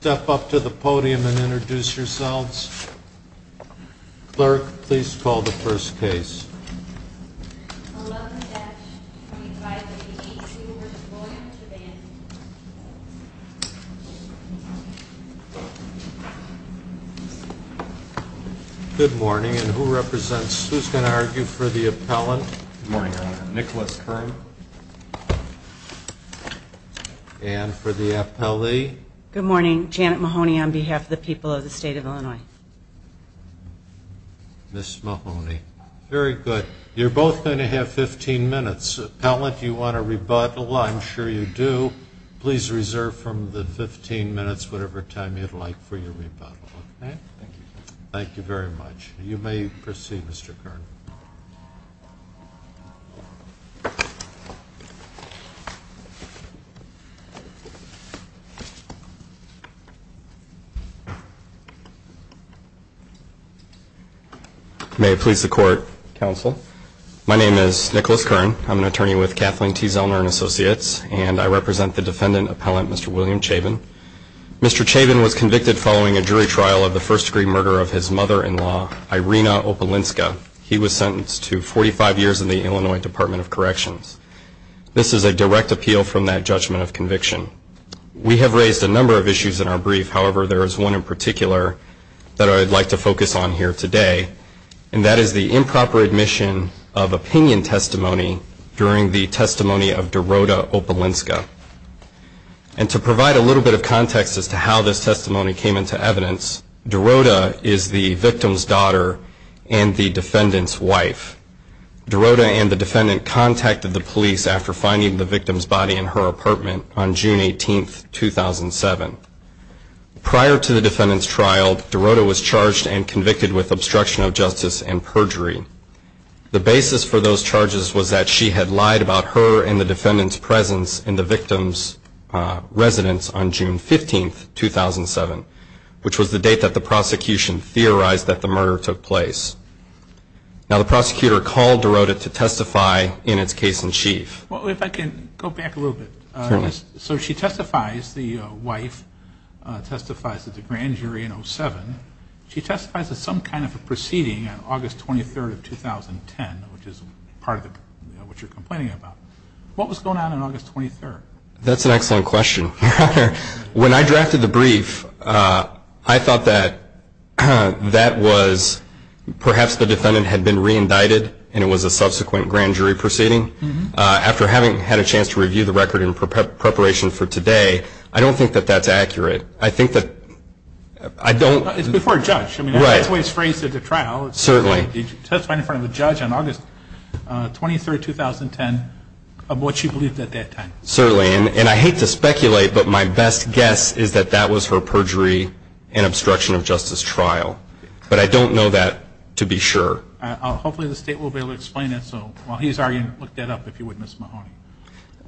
Step up to the podium and introduce yourselves. Clerk, please call the first case. Good morning, and who represents, who's going to argue for the appellant? Good morning, Your Honor. Nicholas Kern. And for the appellee? Good morning, Janet Mahoney on behalf of the people of the state of Illinois. Ms. Mahoney. Very good. You're both going to have 15 minutes. Appellant, do you want to rebuttal? I'm sure you do. Please reserve from the 15 minutes, whatever time you'd like, for your rebuttal. Thank you very much. You may proceed, Mr. Kern. May it please the Court, Counsel. My name is Nicholas Kern. I'm an attorney with Kathleen T. Zellner & Associates, and I represent the defendant appellant, Mr. William Chaban. Mr. Chaban was convicted following a jury trial of the first-degree murder of his mother-in-law, Irina Opelinska. He was sentenced to 45 years in the Illinois Department of Corrections. This is a direct appeal from that judgment of conviction. We have raised a number of issues in our brief. However, there is one in particular that I'd like to focus on here today, and that is the improper admission of opinion testimony during the testimony of Dorota Opelinska. And to provide a little bit of context as to how this testimony came into evidence, Dorota is the victim's daughter and the defendant's wife. Dorota and the defendant contacted the police after finding the victim's body in her apartment on June 18, 2007. Prior to the defendant's trial, Dorota was charged and convicted with obstruction of justice and perjury. The basis for those charges was that she had lied about her and the defendant's presence in the victim's residence on June 15, 2007, which was the date that the prosecution theorized that the murder took place. Now, the prosecutor called Dorota to testify in its case in chief. Well, if I can go back a little bit. So she testifies, the wife testifies at the grand jury in 07. She testifies at some kind of a proceeding on August 23, 2010, which is part of what you're complaining about. What was going on on August 23? That's an excellent question. When I drafted the brief, I thought that that was perhaps the defendant had been re-indicted and it was a subsequent grand jury proceeding. After having had a chance to review the record in preparation for today, I don't think that that's accurate. I think that I don't. It's before a judge. Right. Certainly. And I hate to speculate, but my best guess is that that was her perjury and obstruction of justice trial, but I don't know that to be sure. Hopefully the state will be able to explain it, so while he's arguing, look that up if you would, Ms. Mahoney.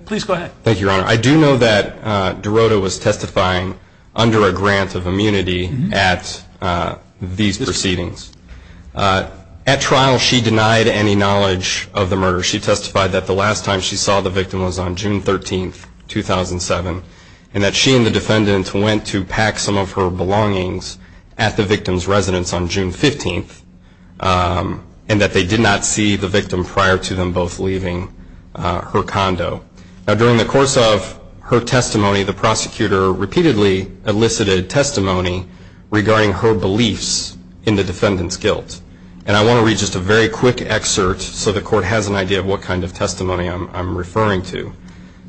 Please go ahead. Thank you, Your Honor. I do know that Dorota was testifying under a grant of immunity at these proceedings. At trial, she denied any knowledge of the murder. She testified that the last time she saw the victim was on June 13, 2007, and that she and the defendant went to pack some of her belongings at the victim's residence on June 15, and that they did not see the victim prior to them both leaving her condo. Now, during the course of her testimony, the prosecutor repeatedly elicited testimony regarding her beliefs in the defendant's guilt. And I want to read just a very quick excerpt so the court has an idea of what kind of testimony I'm referring to.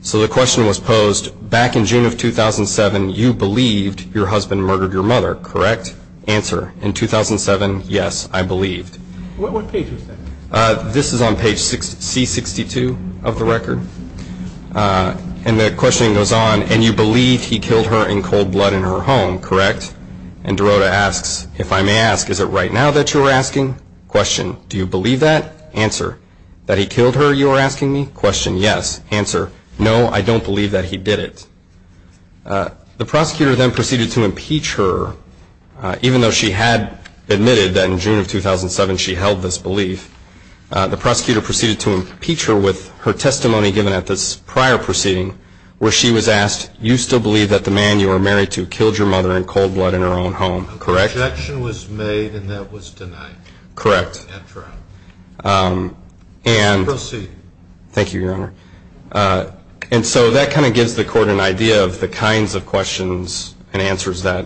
So the question was posed, back in June of 2007, you believed your husband murdered your mother, correct? Answer, in 2007, yes, I believed. What page was that? And the questioning goes on, and you believed he killed her in cold blood in her home, correct? And Dorota asks, if I may ask, is it right now that you are asking? Question, do you believe that? Answer, that he killed her you are asking me? Question, yes. Answer, no, I don't believe that he did it. The prosecutor then proceeded to impeach her, even though she had admitted that in June of 2007 she held this belief. The prosecutor proceeded to impeach her with her testimony given at this prior proceeding, where she was asked, you still believe that the man you were married to killed your mother in cold blood in her own home, correct? The objection was made, and that was denied. Correct. Proceed. Thank you, Your Honor. And so that kind of gives the court an idea of the kinds of questions and answers that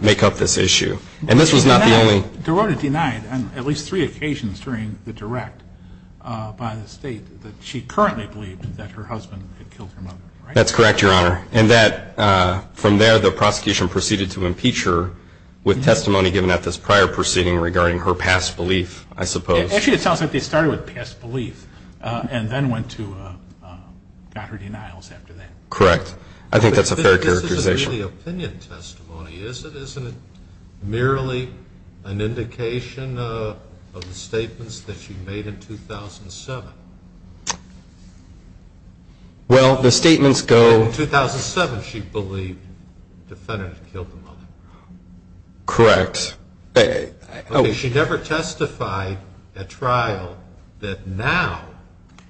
make up this issue. And this was not the only. Dorota denied on at least three occasions during the direct by the State that she currently believed that her husband had killed her mother. That's correct, Your Honor. And from there the prosecution proceeded to impeach her with testimony given at this prior proceeding regarding her past belief, I suppose. Actually, it sounds like they started with past belief and then went to, got her denials after that. Correct. I think that's a fair characterization. This isn't really opinion testimony, is it? Isn't it merely an indication of the statements that she made in 2007? Well, the statements go. Correct. She never testified at trial that now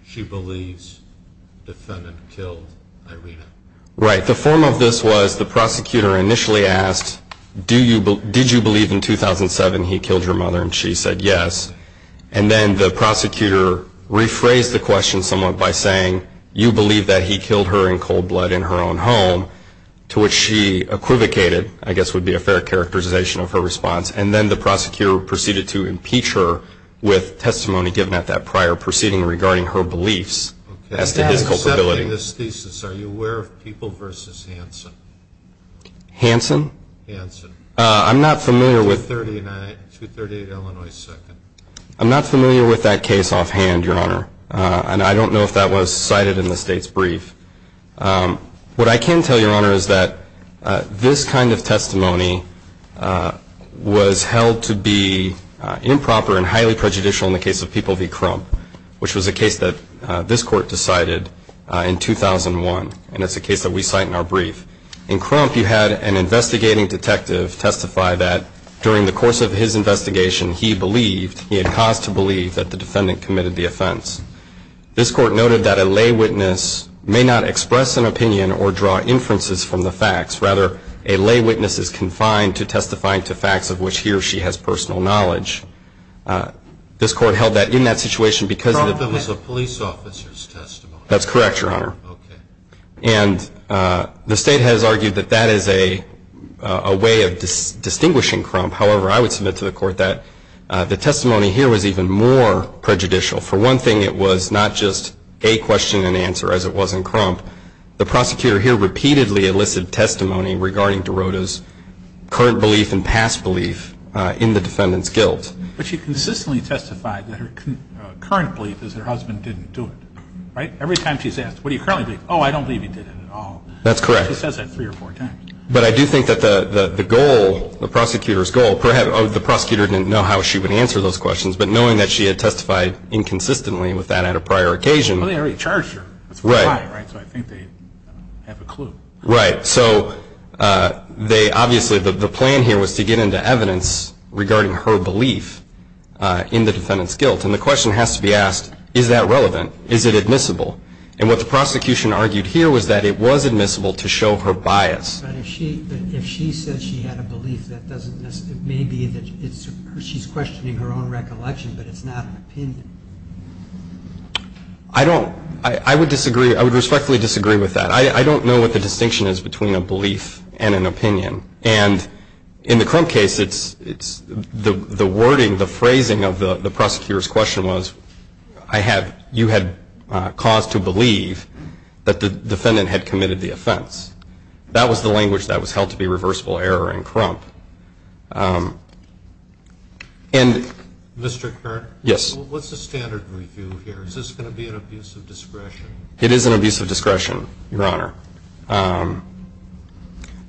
she believes the defendant killed Irina. Right. The form of this was the prosecutor initially asked, did you believe in 2007 he killed her mother? And she said yes. And then the prosecutor rephrased the question somewhat by saying, you believe that he killed her in cold blood in her own home, to which she equivocated, I guess would be a fair characterization of her response. And then the prosecutor proceeded to impeach her with testimony given at that prior proceeding regarding her beliefs as to his culpability. Okay. I'm not familiar with that case offhand, Your Honor, and I don't know if that was cited in the State's brief. What I can tell, Your Honor, is that this kind of testimony was held to be improper and highly prejudicial in the case of People v. Crump, which was a case that this Court decided in 2001, and it's a case that we cite in our brief. In Crump, you had an investigating detective testify that during the course of his investigation, he believed, he had cause to believe, that the defendant committed the offense. This Court noted that a lay witness may not express an opinion or draw inferences from the facts. Rather, a lay witness is confined to testifying to facts of which he or she has personal knowledge. This Court held that in that situation because of the fact that it was a police officer's testimony. That's correct, Your Honor. Okay. And the State has argued that that is a way of distinguishing Crump. However, I would submit to the Court that the testimony here was even more prejudicial. For one thing, it was not just a question and answer, as it was in Crump. The prosecutor here repeatedly elicited testimony regarding Derota's current belief and past belief in the defendant's guilt. But she consistently testified that her current belief is her husband didn't do it, right? Every time she's asked, what do you currently believe? Oh, I don't believe he did it at all. That's correct. She says that three or four times. But I do think that the goal, the prosecutor's goal, perhaps the prosecutor didn't know how she would answer those questions, but knowing that she had testified inconsistently with that at a prior occasion. Well, they already charged her. Right. So I think they have a clue. Right. So they obviously, the plan here was to get into evidence regarding her belief in the defendant's guilt. And the question has to be asked, is that relevant? Is it admissible? And what the prosecution argued here was that it was admissible to show her bias. But if she says she had a belief, that doesn't necessarily, it may be that she's questioning her own recollection, but it's not an opinion. I don't, I would disagree, I would respectfully disagree with that. I don't know what the distinction is between a belief and an opinion. And in the Crump case, it's, the wording, the phrasing of the prosecutor's question was, I have, you had cause to believe that the defendant had committed the offense. That was the language that was held to be reversible error in Crump. Mr. Kern? Yes. What's the standard review here? Is this going to be an abuse of discretion? It is an abuse of discretion, Your Honor.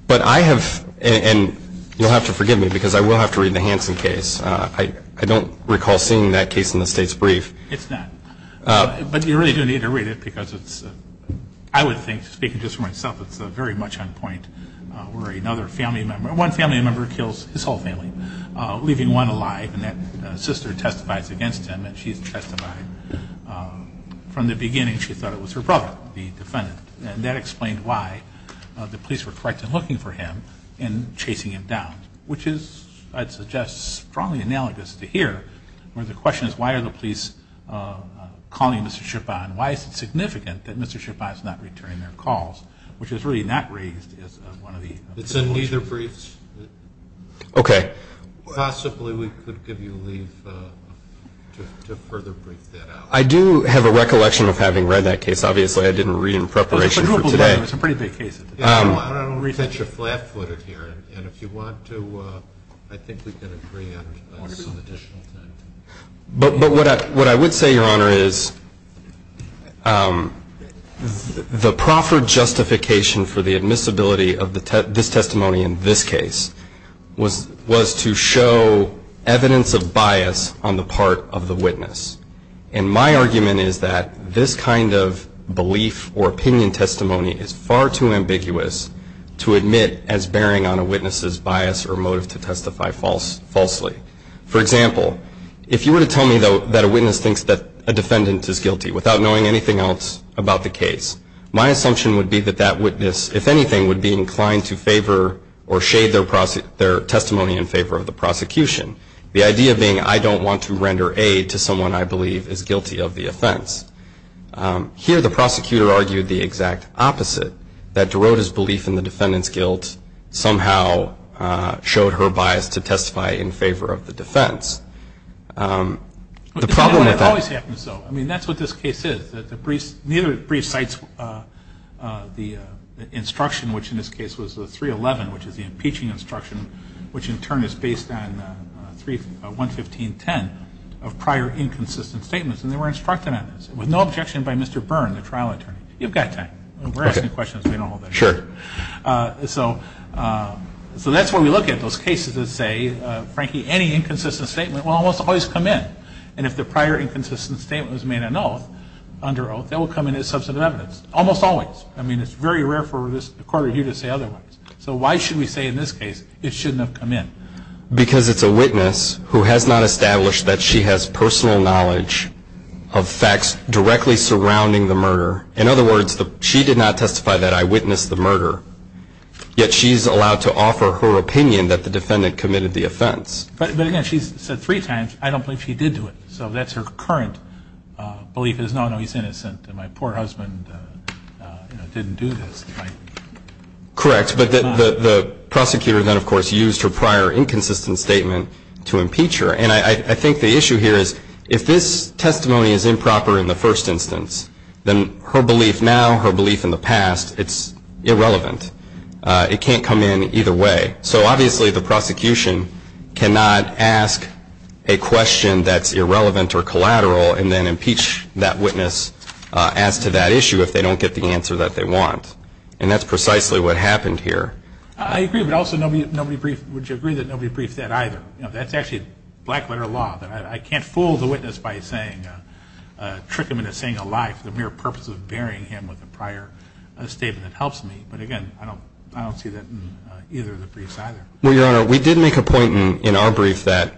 But I have, and you'll have to forgive me because I will have to read the Hansen case. I don't recall seeing that case in the state's brief. It's not. But you really do need to read it because it's, I would think, speaking just for myself, it's very much on point where another family member, one family member kills his whole family, leaving one alive, and that sister testifies against him, and she's testified. From the beginning, she thought it was her brother, the defendant, and that explained why the police were correct in looking for him and chasing him down, which is, I'd suggest, strongly analogous to here, where the question is why are the police calling Mr. Schippa and why is it significant that Mr. Schippa is not returning their calls, which is really not raised as one of the positions. It's in neither brief. Okay. Possibly we could give you leave to further brief that out. I do have a recollection of having read that case. Obviously, I didn't read it in preparation for today. It's a pretty big case. I don't resent your flat-footed here, and if you want to, I think we can agree on some additional time. But what I would say, Your Honor, is the proper justification for the admissibility of this testimony in this case was to show evidence of bias on the part of the witness, and my argument is that this kind of belief or opinion testimony is far too ambiguous to admit as bearing on a witness's bias or motive to testify falsely. For example, if you were to tell me, though, that a witness thinks that a defendant is guilty without knowing anything else about the case, my assumption would be that that witness, if anything, would be inclined to favor or shade their testimony in favor of the prosecution, the idea being I don't want to render aid to someone I believe is guilty of the offense. Here, the prosecutor argued the exact opposite, that DeRoda's belief in the defendant's guilt somehow showed her bias to testify in favor of the defense. The problem with that- It always happens so. I mean, that's what this case is. Neither brief cites the instruction, which in this case was the 311, which is the impeaching instruction, which in turn is based on 115.10, of prior inconsistent statements, and they were instructed on this, with no objection by Mr. Byrne, the trial attorney. You've got time. We're asking questions. We don't hold back. Sure. So that's why we look at those cases and say, Frankie, any inconsistent statement will almost always come in, and if the prior inconsistent statement was made under oath, that will come in as substantive evidence, almost always. I mean, it's very rare for a court review to say otherwise. So why should we say in this case it shouldn't have come in? Because it's a witness who has not established that she has personal knowledge of facts directly surrounding the murder. In other words, she did not testify that I witnessed the murder, yet she's allowed to offer her opinion that the defendant committed the offense. But, again, she's said three times, I don't believe she did do it. So that's her current belief is, no, no, he's innocent, and my poor husband didn't do this. Correct. But the prosecutor then, of course, used her prior inconsistent statement to impeach her. And I think the issue here is if this testimony is improper in the first instance, then her belief now, her belief in the past, it's irrelevant. It can't come in either way. So, obviously, the prosecution cannot ask a question that's irrelevant or collateral and then impeach that witness as to that issue if they don't get the answer that they want. And that's precisely what happened here. I agree, but also would you agree that nobody briefed that either? That's actually black-letter law. I can't fool the witness by tricking him into saying a lie for the mere purpose of burying him with a prior statement that helps me. But, again, I don't see that in either of the briefs either. Well, Your Honor, we did make a point in our brief that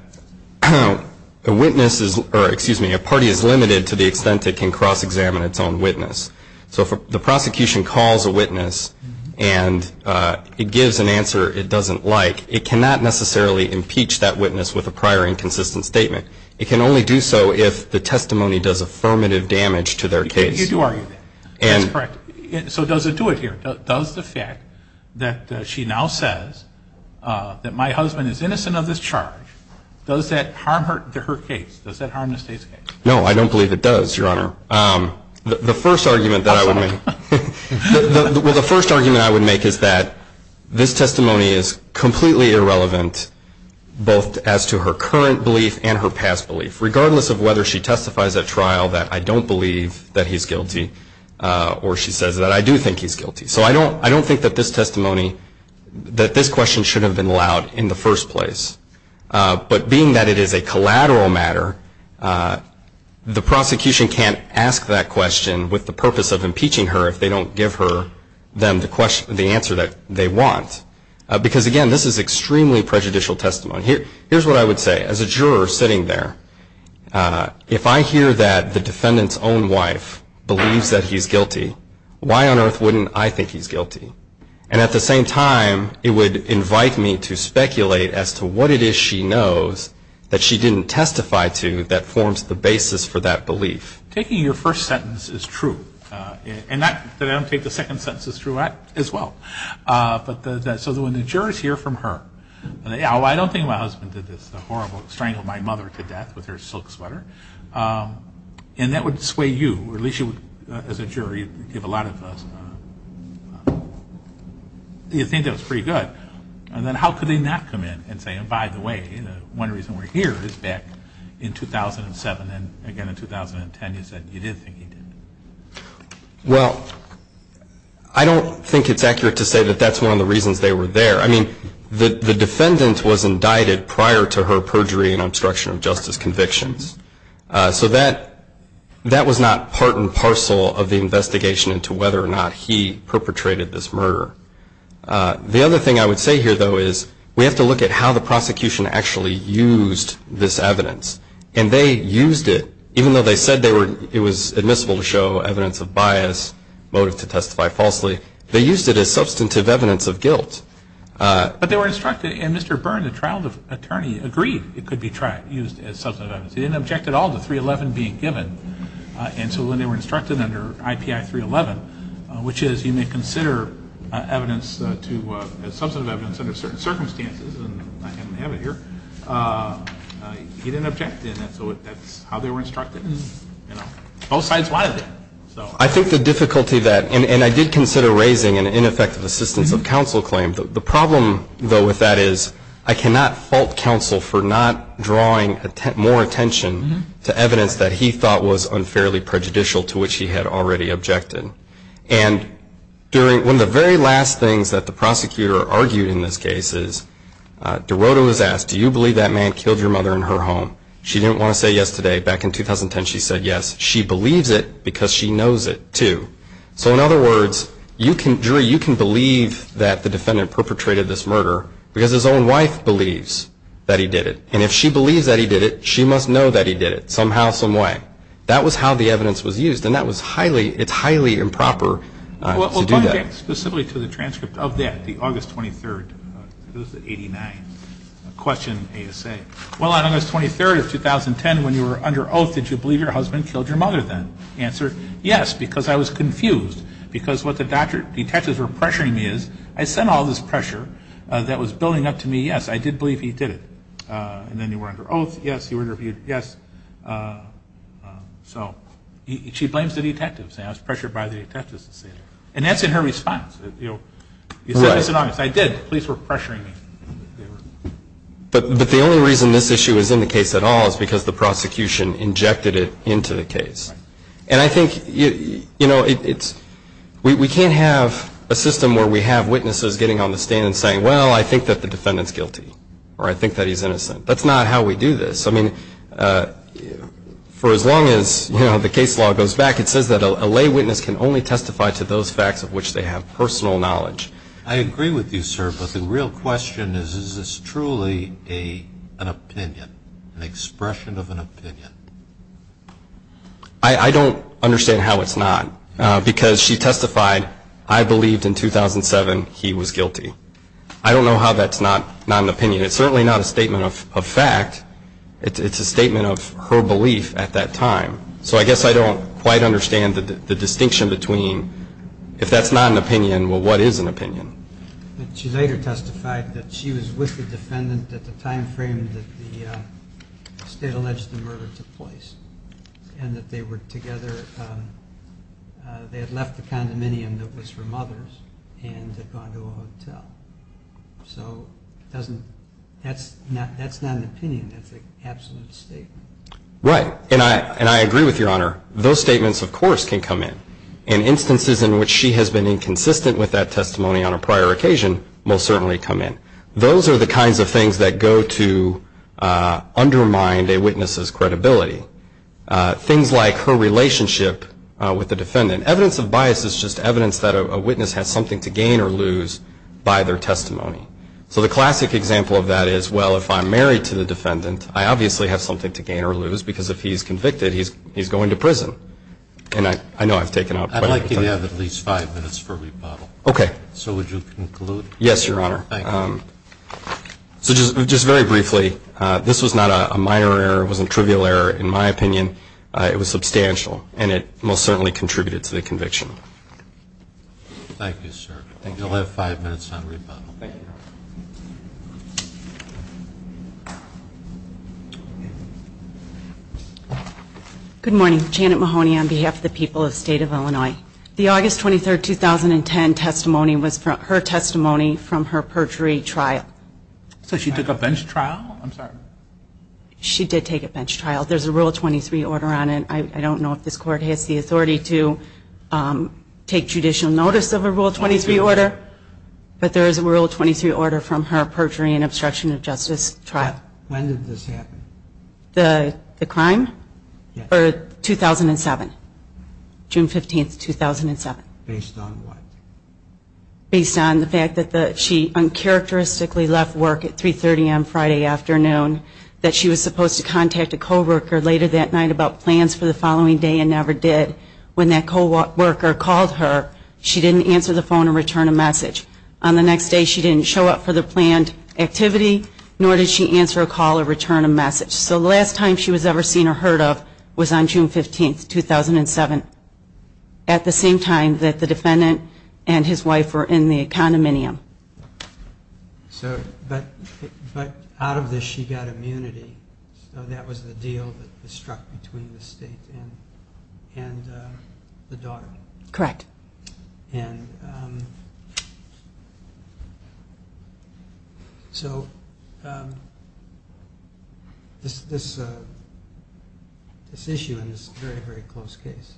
a witness is or, excuse me, a party is limited to the extent it can cross-examine its own witness. So if the prosecution calls a witness and it gives an answer it doesn't like, it cannot necessarily impeach that witness with a prior inconsistent statement. It can only do so if the testimony does affirmative damage to their case. You do argue that. That's correct. So does it do it here? Does the fact that she now says that my husband is innocent of this charge, does that harm her case? Does that harm the state's case? No, I don't believe it does, Your Honor. The first argument that I would make is that this testimony is completely irrelevant both as to her current belief and her past belief, regardless of whether she testifies at trial that I don't believe that he's guilty or she says that I do think he's guilty. So I don't think that this testimony, that this question should have been allowed in the first place. But being that it is a collateral matter, the prosecution can't ask that question with the purpose of impeaching her if they don't give her the answer that they want. Because, again, this is extremely prejudicial testimony. Here's what I would say. As a juror sitting there, if I hear that the defendant's own wife believes that he's guilty, why on earth wouldn't I think he's guilty? And at the same time, it would invite me to speculate as to what it is she knows that she didn't testify to that forms the basis for that belief. Taking your first sentence is true. And that I don't take the second sentence is true as well. So when the jurors hear from her, oh, I don't think my husband did this horrible, strangled my mother to death with her silk sweater. And that would sway you, or at least you as a jury would give a lot of, you'd think that was pretty good. And then how could they not come in and say, and by the way, one reason we're here is back in 2007. And again in 2010 you said you did think he did. Well, I don't think it's accurate to say that that's one of the reasons they were there. I mean, the defendant was indicted prior to her perjury and obstruction of justice convictions. So that was not part and parcel of the investigation into whether or not he perpetrated this murder. The other thing I would say here, though, is we have to look at how the prosecution actually used this evidence. And they used it, even though they said it was admissible to show evidence of bias, motive to testify falsely, they used it as substantive evidence of guilt. But they were instructed, and Mr. Byrne, the trial attorney, agreed it could be used as substantive evidence. He didn't object at all to 311 being given. And so when they were instructed under IPI 311, which is you may consider evidence to, as substantive evidence under certain circumstances, and I didn't have it here, he didn't object. And so that's how they were instructed, and both sides wiled it. I think the difficulty that, and I did consider raising an ineffective assistance of counsel claim. The problem, though, with that is I cannot fault counsel for not drawing more attention to evidence that he thought was unfairly prejudicial to which he had already objected. And one of the very last things that the prosecutor argued in this case is, DeRoto was asked, do you believe that man killed your mother in her home? She didn't want to say yes today. Back in 2010, she said yes. She believes it because she knows it, too. So in other words, you can, jury, you can believe that the defendant perpetrated this murder because his own wife believes that he did it. And if she believes that he did it, she must know that he did it, somehow, someway. That was how the evidence was used, and that was highly, it's highly improper to do that. We'll come back specifically to the transcript of that, the August 23rd. It was the 89th. Question, ASA. Well, on August 23rd of 2010, when you were under oath, did you believe your husband killed your mother then? Answer, yes, because I was confused, because what the detectives were pressuring me is, I sent all this pressure that was building up to me, yes, I did believe he did it. And then you were under oath, yes, you were interviewed, yes. So she blames the detectives. I was pressured by the detectives to say that. And that's in her response. You said this in August. I did. The police were pressuring me. But the only reason this issue is in the case at all is because the prosecution injected it into the case. And I think, you know, it's, we can't have a system where we have witnesses getting on the stand and saying, well, I think that the defendant's guilty, or I think that he's innocent. That's not how we do this. I mean, for as long as, you know, the case law goes back, it says that a lay witness can only testify to those facts of which they have personal knowledge. I agree with you, sir. But the real question is, is this truly an opinion, an expression of an opinion? I don't understand how it's not. Because she testified, I believed in 2007 he was guilty. I don't know how that's not an opinion. It's certainly not a statement of fact. It's a statement of her belief at that time. So I guess I don't quite understand the distinction between if that's not an opinion, well, what is an opinion? She later testified that she was with the defendant at the time frame that the state alleged the murder took place and that they were together, they had left the condominium that was her mother's and had gone to a hotel. So that's not an opinion. That's an absolute statement. Right. And I agree with Your Honor. Those statements, of course, can come in. And instances in which she has been inconsistent with that testimony on a prior occasion will certainly come in. Those are the kinds of things that go to undermine a witness's credibility. Things like her relationship with the defendant. Evidence of bias is just evidence that a witness has something to gain or lose by their testimony. So the classic example of that is, well, if I'm married to the defendant, I obviously have something to gain or lose because if he's convicted, he's going to prison. And I know I've taken out quite a bit of time. I'd like you to have at least five minutes for rebuttal. Okay. So would you conclude? Yes, Your Honor. Thank you. So just very briefly, this was not a minor error. It wasn't a trivial error, in my opinion. It was substantial. And it most certainly contributed to the conviction. Thank you, sir. I think you'll have five minutes on rebuttal. Thank you. Good morning. Janet Mahoney on behalf of the people of the State of Illinois. The August 23, 2010 testimony was her testimony from her perjury trial. So she took a bench trial? I'm sorry. She did take a bench trial. There's a Rule 23 order on it. I don't know if this Court has the authority to take judicial notice of a Rule 23 order, but there is a Rule 23 order on it. perjury and obstruction of justice trial. When did this happen? The crime? Yes. 2007. June 15, 2007. Based on what? Based on the fact that she uncharacteristically left work at 3.30 on Friday afternoon, that she was supposed to contact a co-worker later that night about plans for the following day and never did. When that co-worker called her, she didn't answer the phone or return a message. On the next day, she didn't show up for the planned activity, nor did she answer a call or return a message. So the last time she was ever seen or heard of was on June 15, 2007, at the same time that the defendant and his wife were in the condominium. But out of this, she got immunity. So that was the deal that was struck between the State and the daughter. Correct. And so this issue in this very, very close case,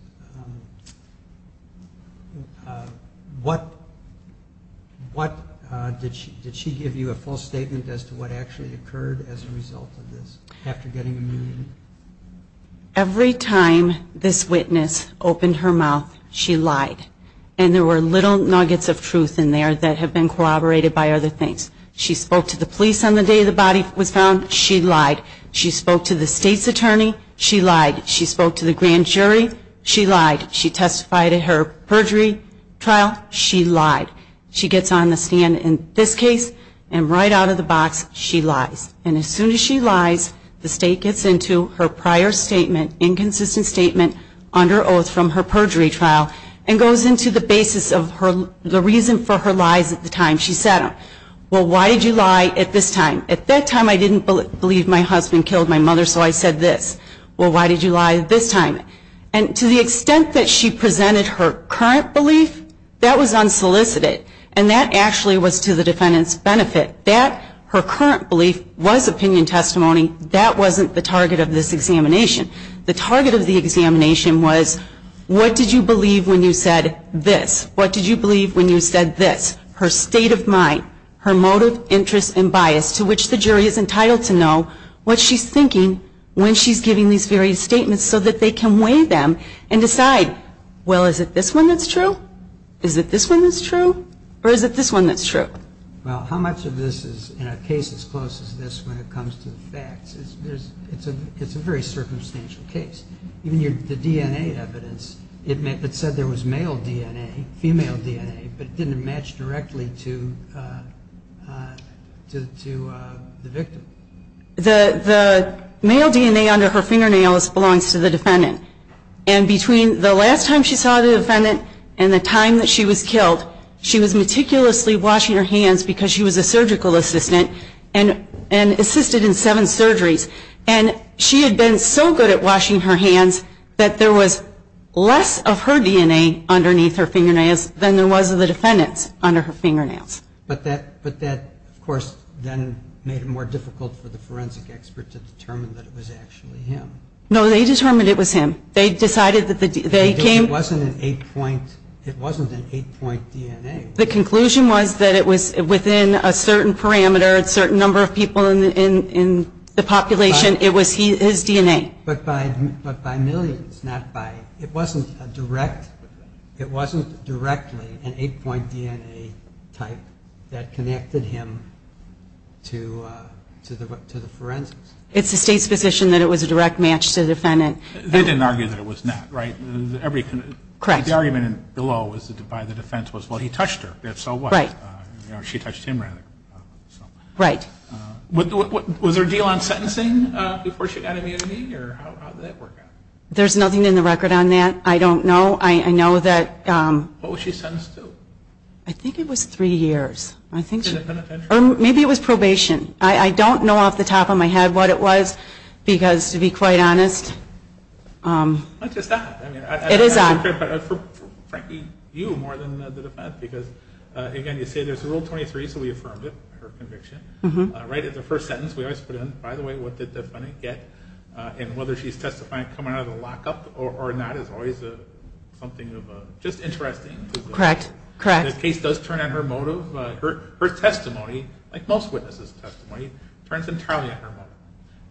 what did she give you a full statement as to what actually occurred as a result of this after getting immunity? Every time this witness opened her mouth, she lied. And there were little nuggets of truth in there that had been corroborated by other things. She spoke to the police on the day the body was found. She lied. She spoke to the State's attorney. She lied. She spoke to the grand jury. She lied. She testified at her perjury trial. She lied. She gets on the stand in this case, and right out of the box, she lies. And as soon as she lies, the State gets into her prior statement, inconsistent statement under oath from her perjury trial, and goes into the basis of the reason for her lies at the time she said them. Well, why did you lie at this time? At that time, I didn't believe my husband killed my mother, so I said this. Well, why did you lie at this time? And to the extent that she presented her current belief, that was unsolicited. And that actually was to the defendant's benefit. Her current belief was opinion testimony. That wasn't the target of this examination. The target of the examination was, what did you believe when you said this? What did you believe when you said this? Her state of mind, her motive, interest, and bias, to which the jury is entitled to know what she's thinking when she's giving these various statements so that they can weigh them and decide, well, is it this one that's true? Or is it this one that's true? Well, how much of this is in a case as close as this when it comes to the facts? It's a very circumstantial case. Even the DNA evidence, it said there was male DNA, female DNA, but it didn't match directly to the victim. The male DNA under her fingernails belongs to the defendant. And between the last time she saw the defendant and the time that she was killed, she was meticulously washing her hands because she was a surgical assistant and assisted in seven surgeries. And she had been so good at washing her hands that there was less of her DNA underneath her fingernails than there was of the defendant's under her fingernails. But that, of course, then made it more difficult for the forensic expert to determine that it was actually him. No, they determined it was him. It wasn't an eight-point DNA. The conclusion was that it was within a certain parameter, a certain number of people in the population. It was his DNA. But by millions, not by... It wasn't directly an eight-point DNA type that connected him to the forensics. It's the State's position that it was a direct match to the defendant. They didn't argue that it was not, right? Correct. The argument below by the defense was, well, he touched her. If so, what? Right. She touched him, rather. Right. Was there a deal on sentencing before she got immunity? Or how did that work out? There's nothing in the record on that. I don't know. I know that... What was she sentenced to? I think it was three years. Or maybe it was probation. I don't know off the top of my head what it was because, to be quite honest, it is odd. Frankly, you more than the defendant because, again, you say there's Rule 23, so we affirmed it, her conviction. Right at the first sentence, we always put in, by the way, what did the defendant get? And whether she's testifying coming out of the lockup or not is always something of just interesting. Correct. Correct. The case does turn on her motive. Her testimony, like most witnesses' testimony, turns entirely on her motive.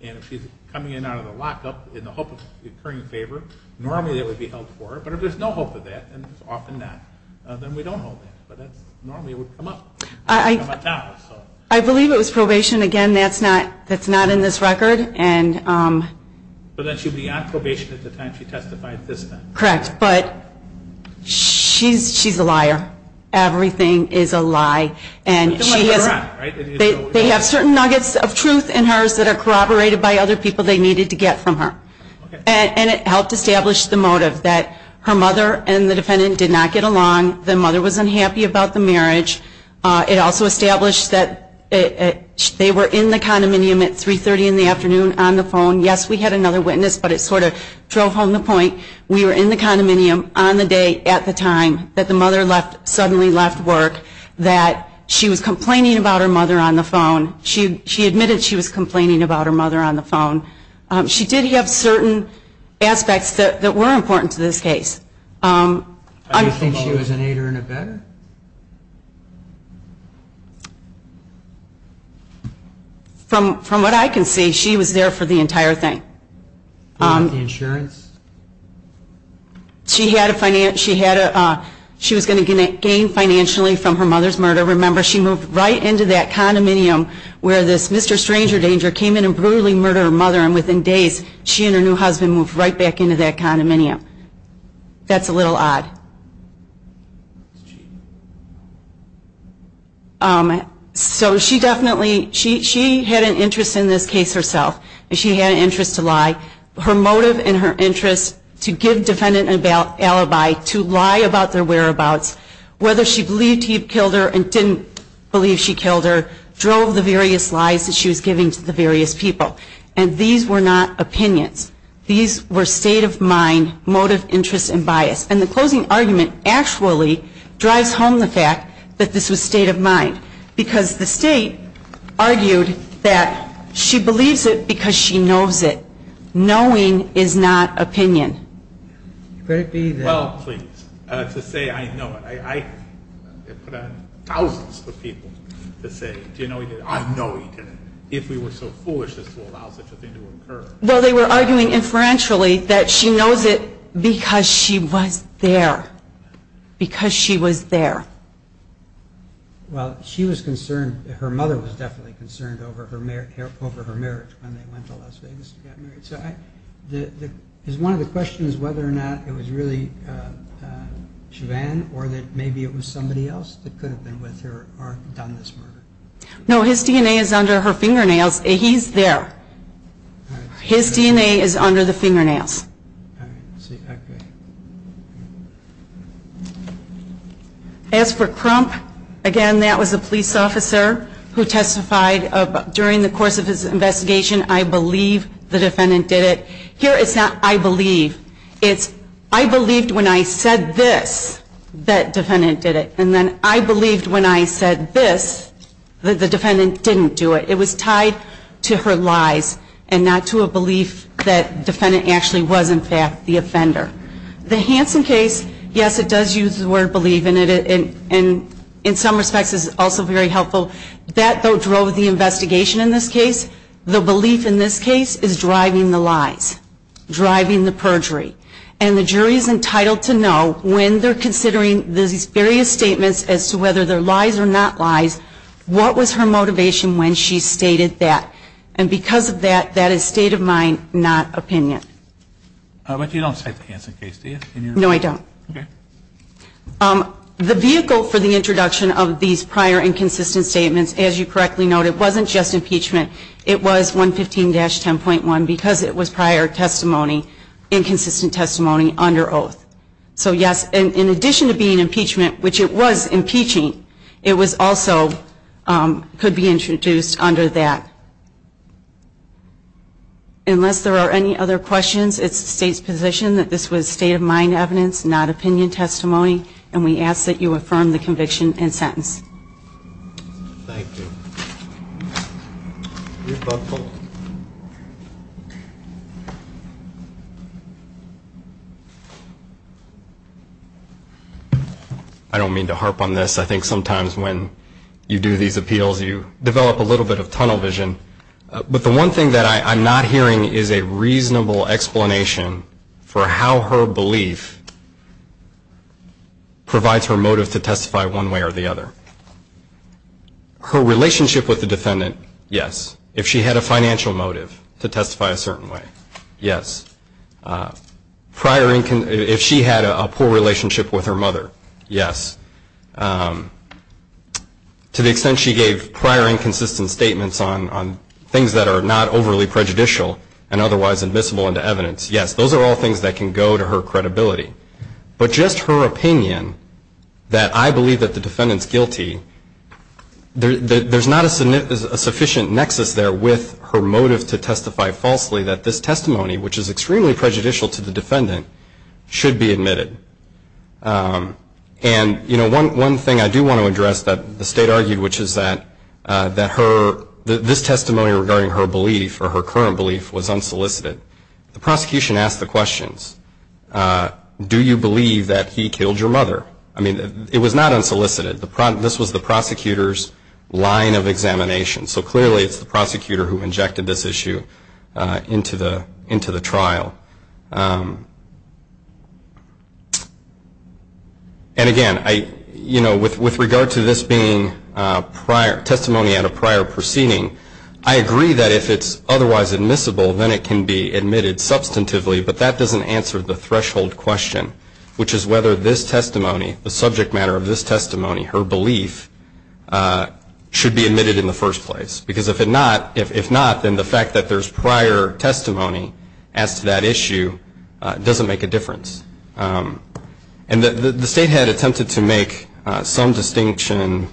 And if she's coming in out of the lockup in the hope of incurring a favor, normally that would be held for her. But if there's no hope of that, and it's often not, then we don't hold that. But normally it would come up. I believe it was probation. Again, that's not in this record. But then she would be on probation at the time she testified this time. Correct. But she's a liar. Everything is a lie. And she has certain nuggets of truth in hers that are corroborated by other people they needed to get from her. And it helped establish the motive that her mother and the defendant did not get along, the mother was unhappy about the marriage. It also established that they were in the condominium at 3.30 in the afternoon on the phone. Yes, we had another witness, but it sort of drove home the point. We were in the condominium on the day at the time that the mother suddenly left work that she was complaining about her mother on the phone. She admitted she was complaining about her mother on the phone. She did have certain aspects that were important to this case. Do you think she was an aider and abetter? From what I can see, she was there for the entire thing. The insurance? She was going to gain financially from her mother's murder. Remember, she moved right into that condominium where this Mr. Stranger Danger came in and brutally murdered her mother. And within days, she and her new husband moved right back into that condominium. That's a little odd. So she definitely had an interest in this case herself. She had an interest to lie. Her motive and her interest to give defendant an alibi to lie about their whereabouts, whether she believed he killed her and didn't believe she killed her, drove the various lies that she was giving to the various people. And these were not opinions. These were state of mind, motive, interest, and bias. And the closing argument actually drives home the fact that this was state of mind because the state argued that she believes it because she knows it. Knowing is not opinion. Well, please, to say I know it, I put on thousands of people to say, do you know he did it? I know he did it. If we were so foolish as to allow such a thing to occur. Well, they were arguing inferentially that she knows it because she was there. Because she was there. Well, she was concerned. Her mother was definitely concerned over her marriage when they went to Las Vegas to get married. So is one of the questions whether or not it was really Siobhan or that maybe it was somebody else that could have been with her or done this murder? No, his DNA is under her fingernails. He's there. His DNA is under the fingernails. All right. Okay. As for Crump, again, that was a police officer who testified during the course of his investigation. I believe the defendant did it. Here it's not I believe. It's I believed when I said this that defendant did it. And then I believed when I said this that the defendant didn't do it. It was tied to her lies and not to a belief that defendant actually was, in fact, the offender. The Hansen case, yes, it does use the word believe. And in some respects is also very helpful. That, though, drove the investigation in this case. The belief in this case is driving the lies, driving the perjury. And the jury is entitled to know when they're considering these various statements as to whether they're lies or not lies, what was her motivation when she stated that. And because of that, that is state of mind, not opinion. But you don't cite the Hansen case, do you? No, I don't. Okay. The vehicle for the introduction of these prior inconsistent statements, as you correctly noted, wasn't just impeachment. It was 115-10.1 because it was prior testimony, inconsistent testimony under oath. So, yes, in addition to being impeachment, which it was impeaching, it was also could be introduced under that. Unless there are any other questions, it's the State's position that this was state of mind evidence, not opinion testimony, and we ask that you affirm the conviction and sentence. Thank you. Rebuttal. I don't mean to harp on this. I think sometimes when you do these appeals, you develop a little bit of tunnel vision. But the one thing that I'm not hearing is a reasonable explanation for how her belief provides her motive to testify one way or the other. Her relationship with the defendant, yes. If she had a financial motive to testify a certain way, yes. If she had a poor relationship with her mother, yes. To the extent she gave prior inconsistent statements on things that are not overly prejudicial and otherwise admissible into evidence, yes. Those are all things that can go to her credibility. But just her opinion that I believe that the defendant's guilty, there's not a sufficient nexus there with her motive to testify falsely that this testimony, which is extremely prejudicial to the defendant, should be admitted. And, you know, one thing I do want to address that the State argued, which is that this testimony regarding her belief or her current belief was unsolicited. The prosecution asked the questions, do you believe that he killed your mother? I mean, it was not unsolicited. This was the prosecutor's line of examination. So clearly it's the prosecutor who injected this issue into the trial. And, again, you know, with regard to this being testimony at a prior proceeding, I agree that if it's otherwise admissible, then it can be admitted substantively. But that doesn't answer the threshold question, which is whether this testimony, the subject matter of this testimony, her belief, should be admitted in the first place. Because if not, then the fact that there's prior testimony as to that issue doesn't make a difference. And the State had attempted to make some distinction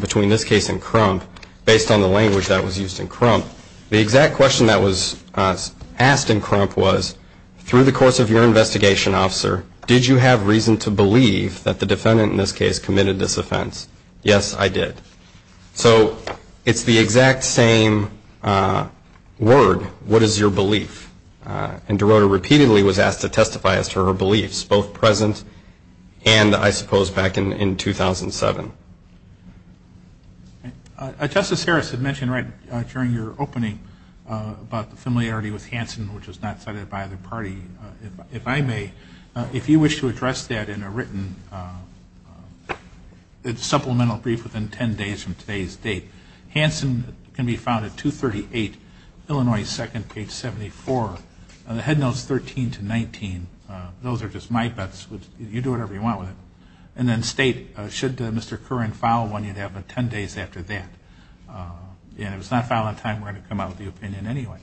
between this case and the one in which that was used in Crump. The exact question that was asked in Crump was, through the course of your investigation, officer, did you have reason to believe that the defendant, in this case, committed this offense? Yes, I did. So it's the exact same word, what is your belief? And DeRota repeatedly was asked to testify as to her beliefs, both present and, I suppose, back in 2007. Thank you. Justice Harris had mentioned right during your opening about the familiarity with Hansen, which was not cited by the party. If I may, if you wish to address that in a written supplemental brief within 10 days from today's date, Hansen can be found at 238 Illinois 2nd, page 74. The head notes 13 to 19, those are just my bets. You do whatever you want with it. And then State, should Mr. Curran file one, you'd have it 10 days after that. And if it's not filed on time, we're going to come out with the opinion anyway.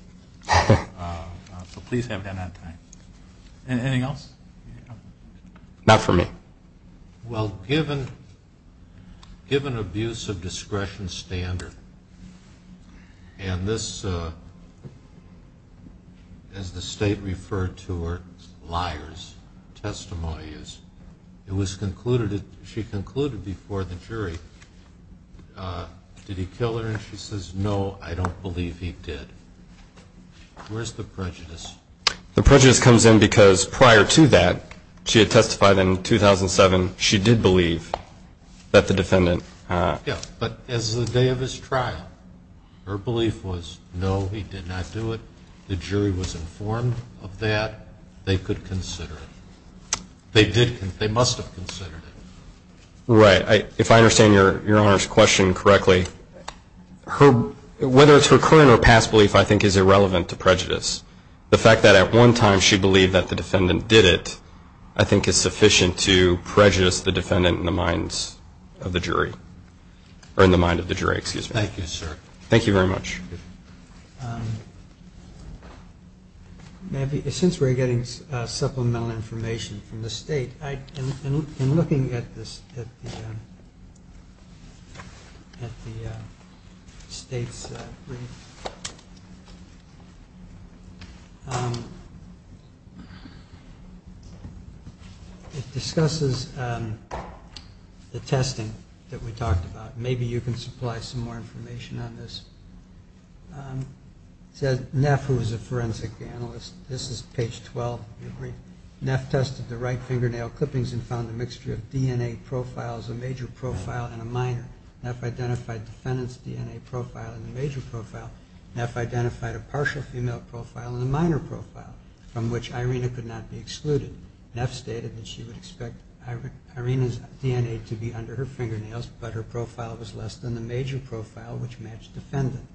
So please have that on time. Anything else? Not for me. Well, given abuse of discretion standard, and this, as the State referred to, were liars, testimonies, it was concluded, she concluded before the jury, did he kill her? And she says, no, I don't believe he did. Where's the prejudice? The prejudice comes in because prior to that, she had testified in 2007, she did believe that the defendant. Yeah, but as the day of his trial, her belief was, no, he did not do it. The jury was informed of that. They could consider it. They did, they must have considered it. Right. If I understand Your Honor's question correctly, her, whether it's her current or past belief, I think is irrelevant to prejudice. The fact that at one time she believed that the defendant did it, I think is sufficient to prejudice the defendant in the minds of the jury, or in the mind of the jury, excuse me. Thank you, sir. Thank you very much. Since we're getting supplemental information from the state, in looking at the state's brief, it discusses the testing that we talked about. Maybe you can supply some more information on this. It says, Neff, who was a forensic analyst, this is page 12 of the brief, Neff tested the right fingernail clippings and found a mixture of DNA profiles, a major profile and a minor. Neff identified the defendant's DNA profile in the major profile. Neff identified a partial female profile in the minor profile, from which Irina could not be excluded. Neff stated that she would expect Irina's DNA to be under her fingernails, but her profile was less than the major profile, which matched the defendant.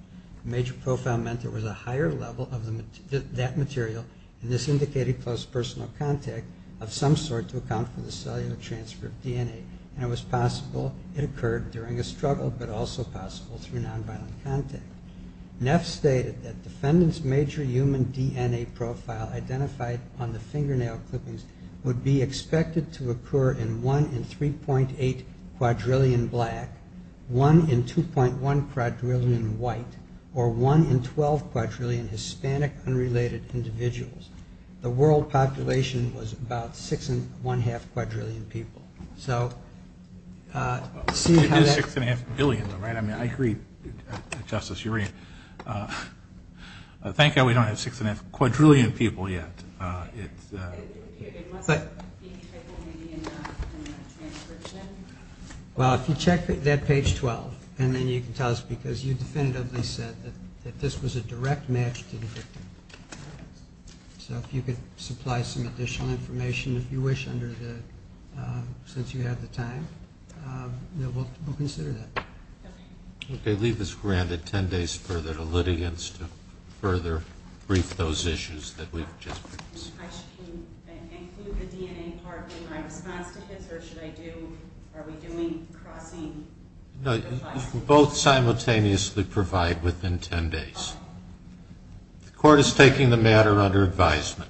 The major profile meant there was a higher level of that material, and this indicated close personal contact of some sort to account for the cellular transfer of DNA, and it was possible it occurred during a struggle, but also possible through nonviolent contact. Neff stated that defendant's major human DNA profile identified on the black, one in 2.1 quadrillion white, or one in 12 quadrillion Hispanic unrelated individuals. The world population was about six and one-half quadrillion people. It is six and a half billion, though, right? I mean, I agree, Justice Urean. Thank God we don't have six and a half quadrillion people yet. Well, if you check that page 12, and then you can tell us because you definitively said that this was a direct match to the victim. So if you could supply some additional information, if you wish, since you have the time, we'll consider that. Okay. Leave this granted 10 days further to litigants to further brief those issues that we've just presented. I should include the DNA part in my response to his, or should I do, are we doing crossing? No, both simultaneously provide within 10 days. The court is taking the matter under advisement.